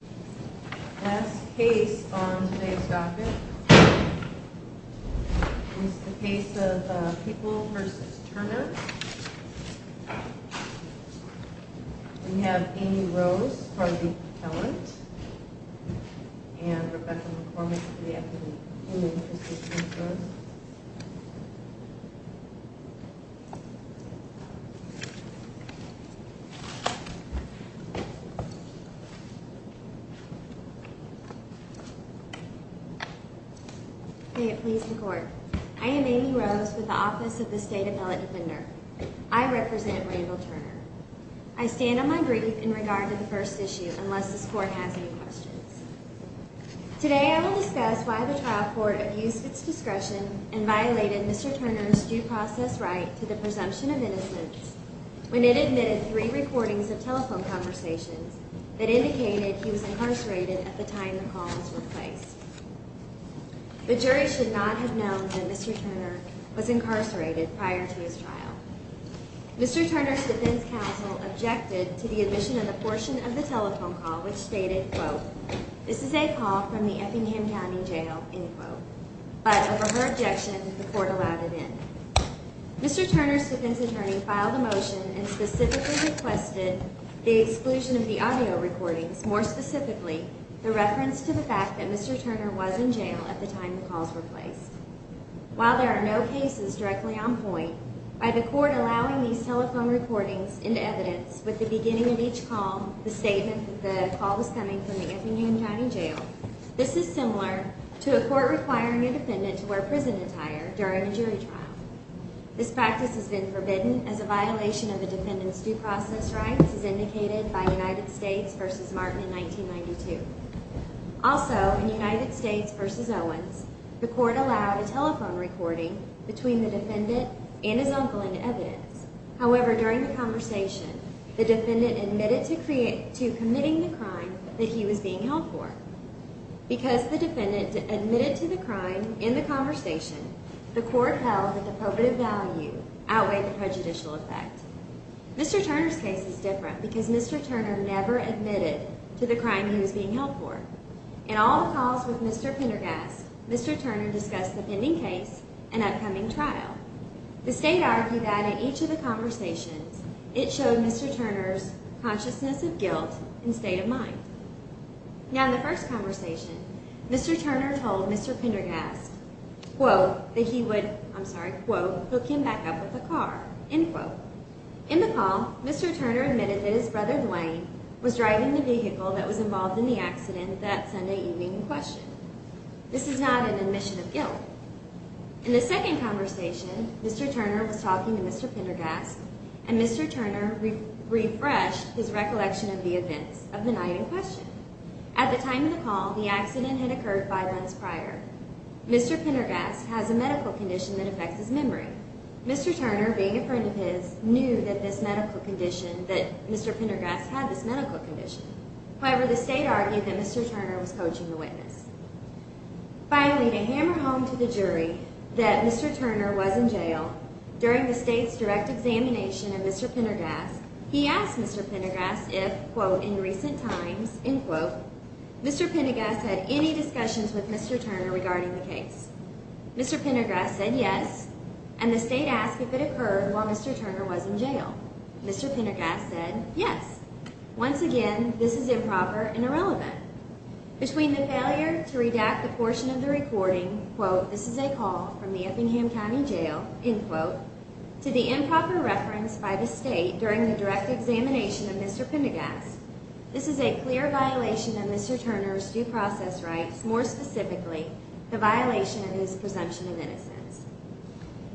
The last case on today's docket is the case of People v. Turner. We have Amy Rose for the appellant and Rebecca McCormick for the appellant. May it please the Court. I am Amy Rose with the Office of the State Appellate Defender. I represent Randall Turner. I stand on my brief in regard to the first issue unless this Court has any questions. Today I will discuss why the trial court abused its discretion and violated Mr. Turner's due process right to the presumption of innocence when it admitted three recordings of telephone conversations that indicated he was incarcerated at the time the calls were placed. The jury should not have known that Mr. Turner was incarcerated prior to his trial. Mr. Turner's defense counsel objected to the admission of a portion of the telephone call which stated, quote, this is a call from the Effingham County Jail, end quote. But over her objection, the Court allowed it in. Mr. Turner's defense attorney filed a motion and specifically requested the exclusion of the audio recordings, more specifically the reference to the fact that Mr. Turner was in jail at the time the calls were placed. While there are no cases directly on point, by the Court allowing these telephone recordings into evidence with the beginning of each call, the statement that the call was coming from the Effingham County Jail, this is similar to a court requiring a defendant to wear prison attire during a jury trial. This practice has been forbidden as a violation of a defendant's due process rights as indicated by United States v. Martin in 1992. Also, in United States v. Owens, the Court allowed a telephone recording between the defendant and his uncle into evidence. However, during the conversation, the defendant admitted to committing the crime that he was being held for. Because the defendant admitted to the crime in the conversation, the Court held that the probative value outweighed the prejudicial effect. Mr. Turner's case is different because Mr. Turner never admitted to the crime he was being held for. In all the calls with Mr. Pendergast, Mr. Turner discussed the pending case and upcoming trial. The State argued that in each of the conversations, it showed Mr. Turner's consciousness of guilt and state of mind. Now, in the first conversation, Mr. Turner told Mr. Pendergast, quote, that he would, I'm sorry, quote, hook him back up with a car, end quote. In the call, Mr. Turner admitted that his brother Duane was driving the vehicle that was involved in the accident that Sunday evening in question. In the second conversation, Mr. Turner was talking to Mr. Pendergast, and Mr. Turner refreshed his recollection of the events of the night in question. At the time of the call, the accident had occurred five months prior. Mr. Pendergast has a medical condition that affects his memory. Mr. Turner, being a friend of his, knew that this medical condition, that Mr. Pendergast had this medical condition. However, the State argued that Mr. Turner was coaching the witness. Finally, to hammer home to the jury that Mr. Turner was in jail, during the State's direct examination of Mr. Pendergast, he asked Mr. Pendergast if, quote, in recent times, end quote, Mr. Pendergast had any discussions with Mr. Turner regarding the case. Mr. Pendergast said yes, and the State asked if it occurred while Mr. Turner was in jail. Mr. Pendergast said yes. Once again, this is improper and irrelevant. Between the failure to redact the portion of the recording, quote, this is a call from the Effingham County Jail, end quote, to the improper reference by the State during the direct examination of Mr. Pendergast, this is a clear violation of Mr. Turner's due process rights, more specifically, the violation of his presumption of innocence.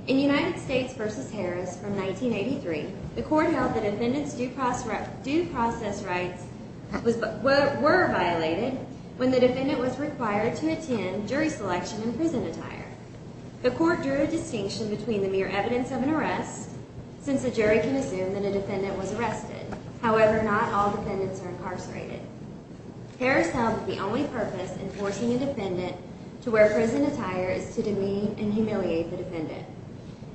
In United States v. Harris from 1983, the court held the defendant's due process rights were violated when the defendant was required to attend jury selection in prison attire. The court drew a distinction between the mere evidence of an arrest, since a jury can assume that a defendant was arrested. However, not all defendants are incarcerated. Harris held that the only purpose in forcing a defendant to wear prison attire is to demean and humiliate the defendant.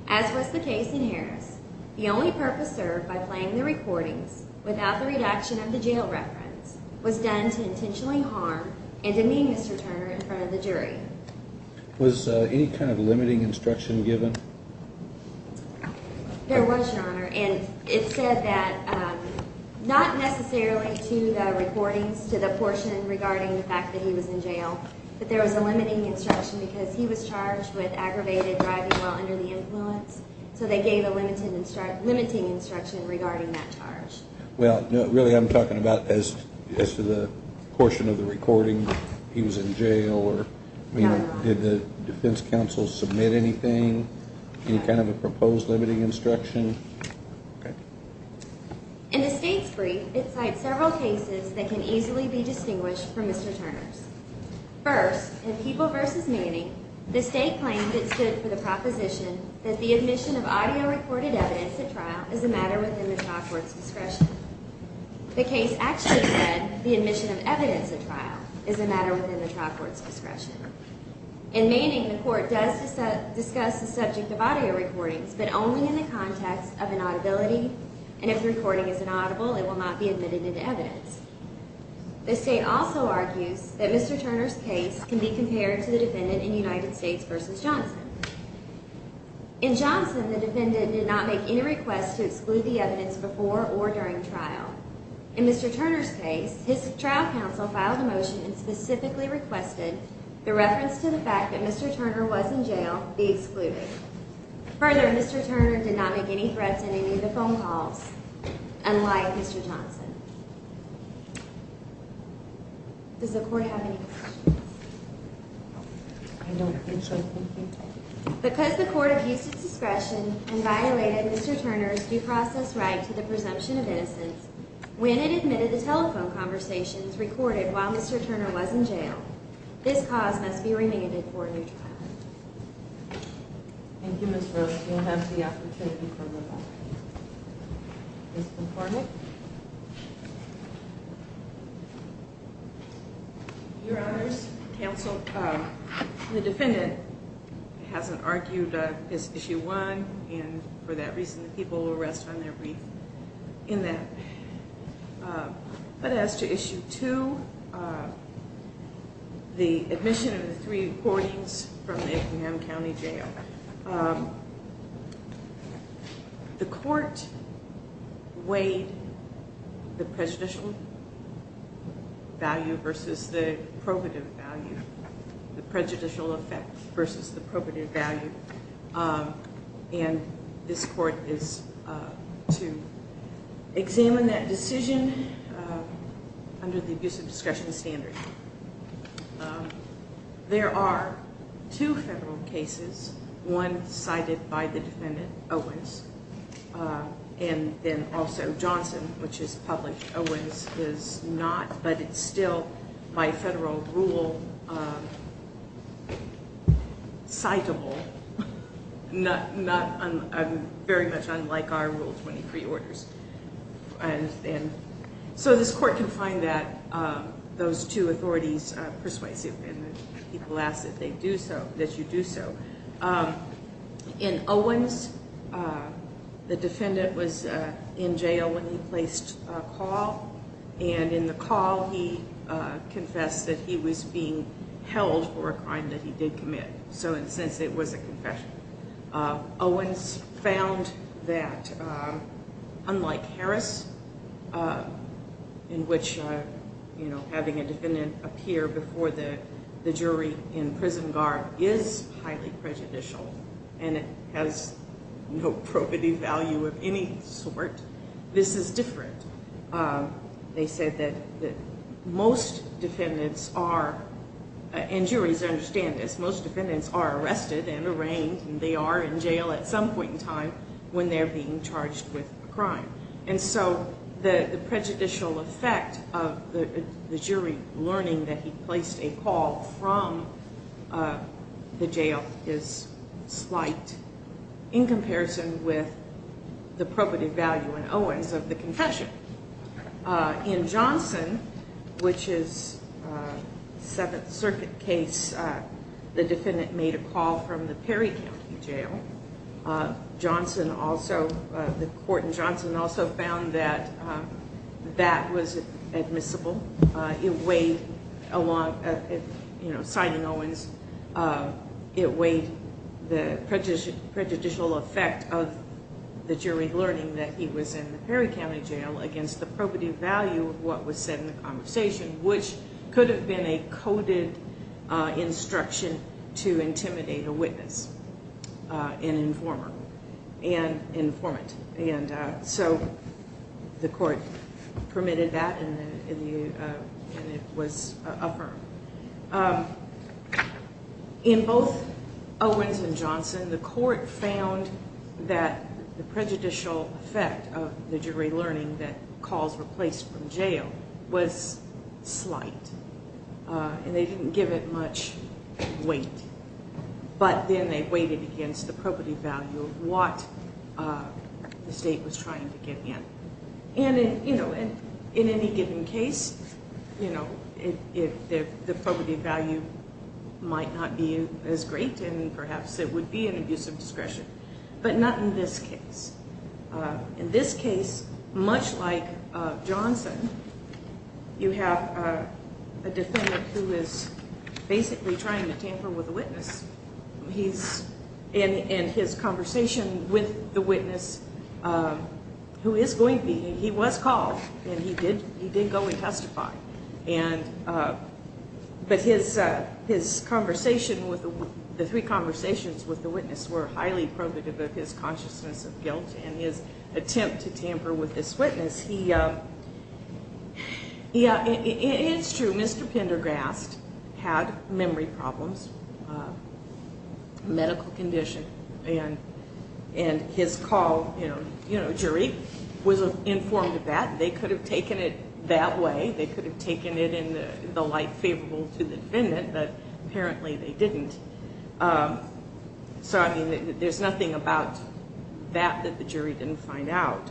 As was the case in Harris, the only purpose served by playing the recordings without the redaction of the jail reference was done to intentionally harm and demean Mr. Turner in front of the jury. Was any kind of limiting instruction given? There was, Your Honor. And it said that not necessarily to the recordings, to the portion regarding the fact that he was in jail, but there was a limiting instruction because he was charged with aggravated driving while under the influence, so they gave a limiting instruction regarding that charge. Well, really I'm talking about as to the portion of the recording, he was in jail, or did the defense counsel submit anything, any kind of a proposed limiting instruction? In the state's brief, it cites several cases that can easily be distinguished from Mr. Turner's. First, in People v. Manning, the state claimed it stood for the proposition that the admission of audio recorded evidence at trial is a matter within the trial court's discretion. The case actually said the admission of evidence at trial is a matter within the trial court's discretion. In Manning, the court does discuss the subject of audio recordings, but only in the context of inaudibility, and if the recording is inaudible, it will not be admitted into evidence. The state also argues that Mr. Turner's case can be compared to the defendant in United States v. Johnson. In Johnson, the defendant did not make any request to exclude the evidence before or during trial. In Mr. Turner's case, his trial counsel filed a motion and specifically requested the reference to the fact that Mr. Turner was in jail be excluded. Further, Mr. Turner did not make any threats in any of the phone calls, unlike Mr. Johnson. Does the court have any questions? I don't think so. Thank you. Because the court abused its discretion and violated Mr. Turner's due process right to the presumption of innocence when it admitted the telephone conversations recorded while Mr. Turner was in jail, this cause must be remanded for a new trial. Thank you, Ms. Rose. You will have the opportunity for rebuttal. Ms. McCormick? Your honors, counsel, the defendant hasn't argued his issue one, and for that reason, the people will rest on their wreath in that. But as to issue two, the admission of the three recordings from the Abraham County Jail, the court weighed the prejudicial value versus the probative value, the prejudicial effect versus the probative value, and this court is to examine that decision under the abuse of discretion standard. There are two federal cases, one cited by the defendant, Owens, and then also Johnson, which is published. Owens is not, but it's still by federal rule citable, very much unlike our Rule 23 orders. So this court can find those two authorities persuasive, and people ask that you do so. In Owens, the defendant was in jail when he placed a call, and in the call, he confessed that he was being held for a crime that he did commit. Owens found that, unlike Harris, in which having a defendant appear before the jury in prison guard is highly prejudicial, and it has no probative value of any sort, this is different. They said that most defendants are, and juries understand this, most defendants are arrested and arraigned, and they are in jail at some point in time when they're being charged with a crime. And so the prejudicial effect of the jury learning that he placed a call from the jail is slight in comparison with the probative value in Owens of the confession. In Johnson, which is a Seventh Circuit case, the defendant made a call from the Perry County Jail. Johnson also, the court in Johnson also found that that was admissible. It weighed, you know, citing Owens, it weighed the prejudicial effect of the jury learning that he was in the Perry County Jail against the probative value of what was said in the conversation, which could have been a coded instruction to intimidate a witness, an informer, an informant. And so the court permitted that, and it was affirmed. In both Owens and Johnson, the court found that the prejudicial effect of the jury learning that calls were placed from jail was slight, and they didn't give it much weight. But then they weighed it against the probative value of what the state was trying to get in. And, you know, in any given case, you know, the probative value might not be as great, and perhaps it would be an abuse of discretion. But not in this case. In this case, much like Johnson, you have a defendant who is basically trying to tamper with a witness. He's in his conversation with the witness, who is going to be. He was called, and he did go and testify. But his conversation, the three conversations with the witness were highly probative of his consciousness of guilt, and his attempt to tamper with this witness. It's true, Mr. Pendergrast had memory problems, medical condition, and his call, you know, jury, was informed of that. They could have taken it that way. They could have taken it in the light favorable to the defendant, but apparently they didn't. So, I mean, there's nothing about that that the jury didn't find out.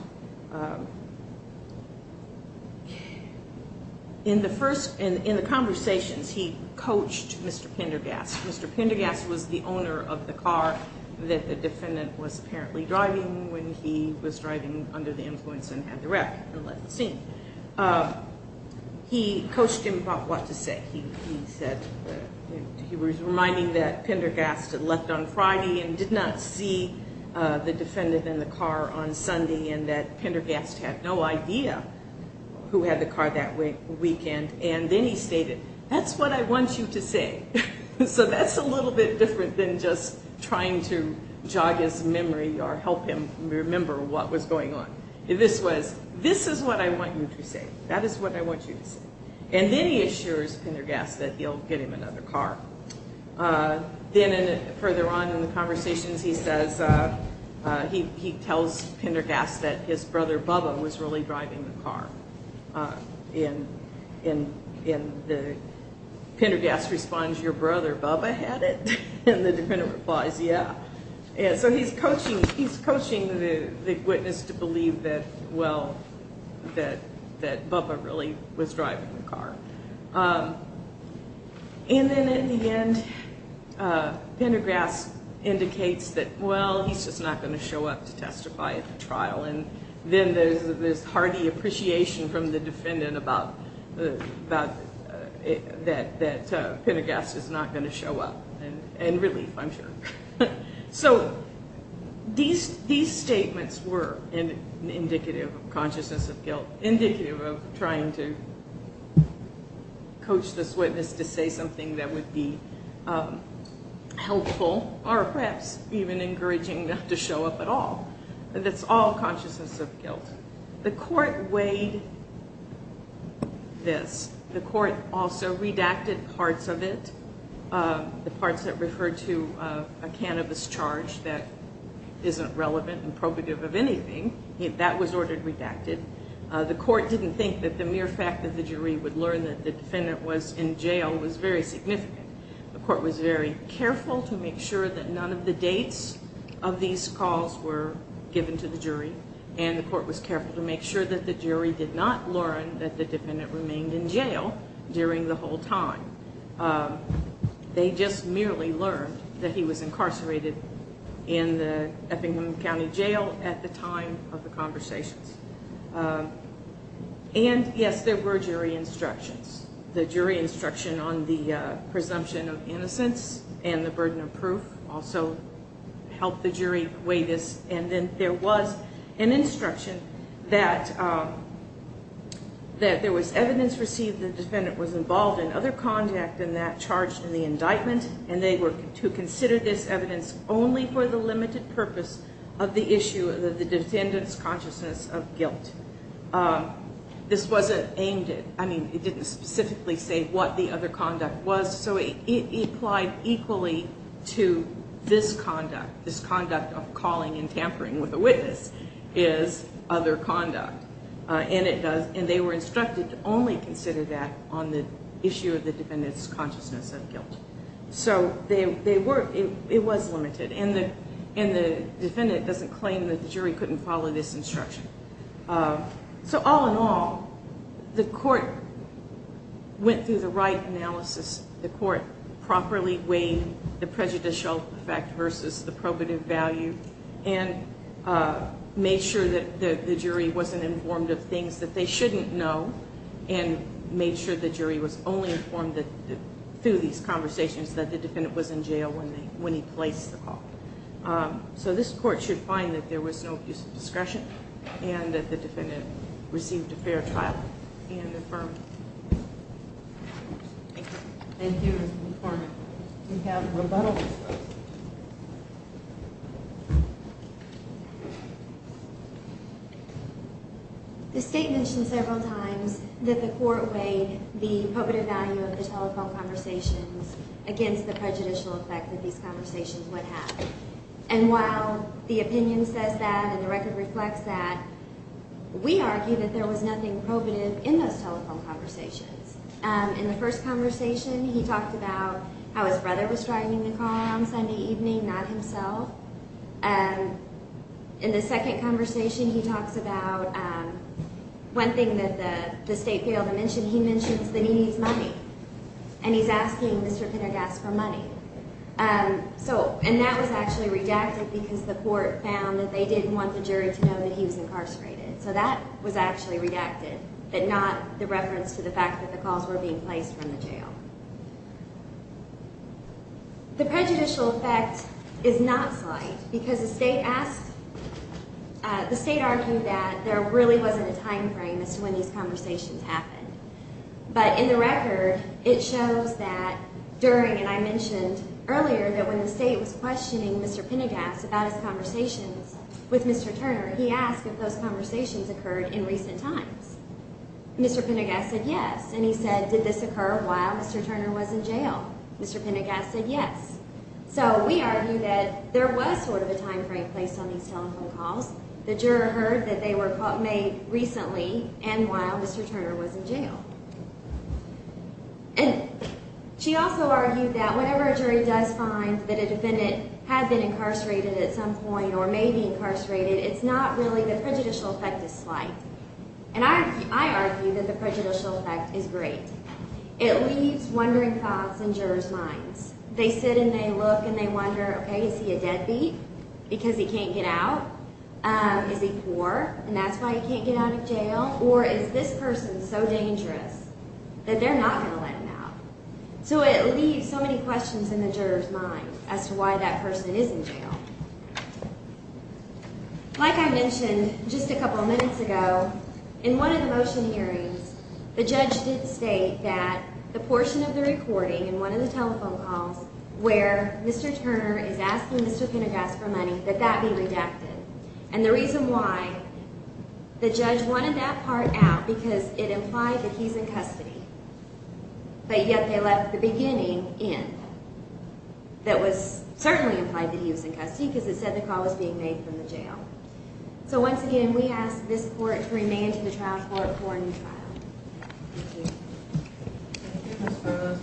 In the first, in the conversations, he coached Mr. Pendergrast. Mr. Pendergrast was the owner of the car that the defendant was apparently driving when he was driving under the influence and had the wreck and left the scene. He coached him about what to say. He said that he was reminding that Pendergrast had left on Friday and did not see the defendant in the car on Sunday, and that Pendergrast had no idea who had the car that weekend. And then he stated, that's what I want you to say. So that's a little bit different than just trying to jog his memory or help him remember what was going on. This was, this is what I want you to say. That is what I want you to say. And then he assures Pendergrast that he'll get him another car. Then further on in the conversations, he says, he tells Pendergrast that his brother Bubba was really driving the car. Pendergrast responds, your brother Bubba had it? And the defendant replies, yeah. So he's coaching the witness to believe that, well, that Bubba really was driving the car. And then at the end, Pendergrast indicates that, well, he's just not going to show up to testify at the trial. And then there's this hearty appreciation from the defendant about that Pendergrast is not going to show up, and relief, I'm sure. So these statements were indicative of consciousness of guilt, indicative of trying to coach this witness to say something that would be helpful or perhaps even encouraging them to show up at all. That's all consciousness of guilt. The court weighed this. The court also redacted parts of it, the parts that referred to a cannabis charge that isn't relevant and probative of anything. That was ordered redacted. The court didn't think that the mere fact that the jury would learn that the defendant was in jail was very significant. The court was very careful to make sure that none of the dates of these calls were given to the jury, and the court was careful to make sure that the jury did not learn that the defendant remained in jail during the whole time. They just merely learned that he was incarcerated in the Effingham County Jail at the time of the conversations. And, yes, there were jury instructions. The jury instruction on the presumption of innocence and the burden of proof also helped the jury weigh this. And then there was an instruction that there was evidence received that the defendant was involved in other conduct and that charged in the indictment, and they were to consider this evidence only for the limited purpose of the issue of the defendant's consciousness of guilt. This wasn't aimed at... I mean, it didn't specifically say what the other conduct was, so it applied equally to this conduct. This conduct of calling and tampering with a witness is other conduct, and they were instructed to only consider that on the issue of the defendant's consciousness of guilt. So it was limited, and the defendant doesn't claim that the jury couldn't follow this instruction. So all in all, the court went through the right analysis. The court properly weighed the prejudicial effect versus the probative value and made sure that the jury wasn't informed of things that they shouldn't know and made sure the jury was only informed through these conversations that the defendant was in jail when he placed the call. So this court should find that there was no abuse of discretion and that the defendant received a fair trial and affirmed. Thank you. Thank you, Mr. McCormick. We have rebuttal. The state mentioned several times that the court weighed the probative value of the telephone conversations against the prejudicial effect that these conversations would have. And while the opinion says that and the record reflects that, we argue that there was nothing probative in those telephone conversations. In the first conversation, he talked about how his brother was driving the car on Sunday evening, not himself. In the second conversation, he talks about one thing that the state failed to mention. He mentions that he needs money, and he's asking Mr. Pendergast for money. And that was actually redacted because the court found that they didn't want the jury to know that he was incarcerated. So that was actually redacted, but not the reference to the fact that the calls were being placed from the jail. The prejudicial effect is not slight because the state argued that there really wasn't a time frame as to when these conversations happened. But in the record, it shows that during, and I mentioned earlier that when the state was questioning Mr. Pendergast about his conversations with Mr. Turner, he asked if those conversations occurred in recent times. Mr. Pendergast said yes, and he said, did this occur while Mr. Turner was in jail? Mr. Pendergast said yes. So we argue that there was sort of a time frame placed on these telephone calls. The juror heard that they were made recently and while Mr. Turner was in jail. And she also argued that whenever a jury does find that a defendant had been incarcerated at some point or may be incarcerated, it's not really the prejudicial effect that's slight. And I argue that the prejudicial effect is great. It leaves wondering thoughts in jurors' minds. They sit and they look and they wonder, okay, is he a deadbeat because he can't get out? Is he poor and that's why he can't get out of jail? Or is this person so dangerous that they're not going to let him out? So it leaves so many questions in the juror's mind as to why that person is in jail. Like I mentioned just a couple of minutes ago, in one of the motion hearings, the judge did state that the portion of the recording in one of the telephone calls where Mr. Turner is asking Mr. Pendergast for money, that that be redacted. And the reason why, the judge wanted that part out because it implied that he's in custody. But yet they left the beginning in. That was certainly implied that he was in custody because it said the call was being made from the jail. So once again, we ask this court to remain to the trial court for a new trial. Thank you. Thank you, Mr.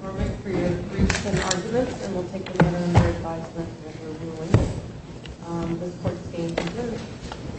Cormack, for your briefs and arguments, and we'll take them under advisement when we're ruling. This court is adjourned.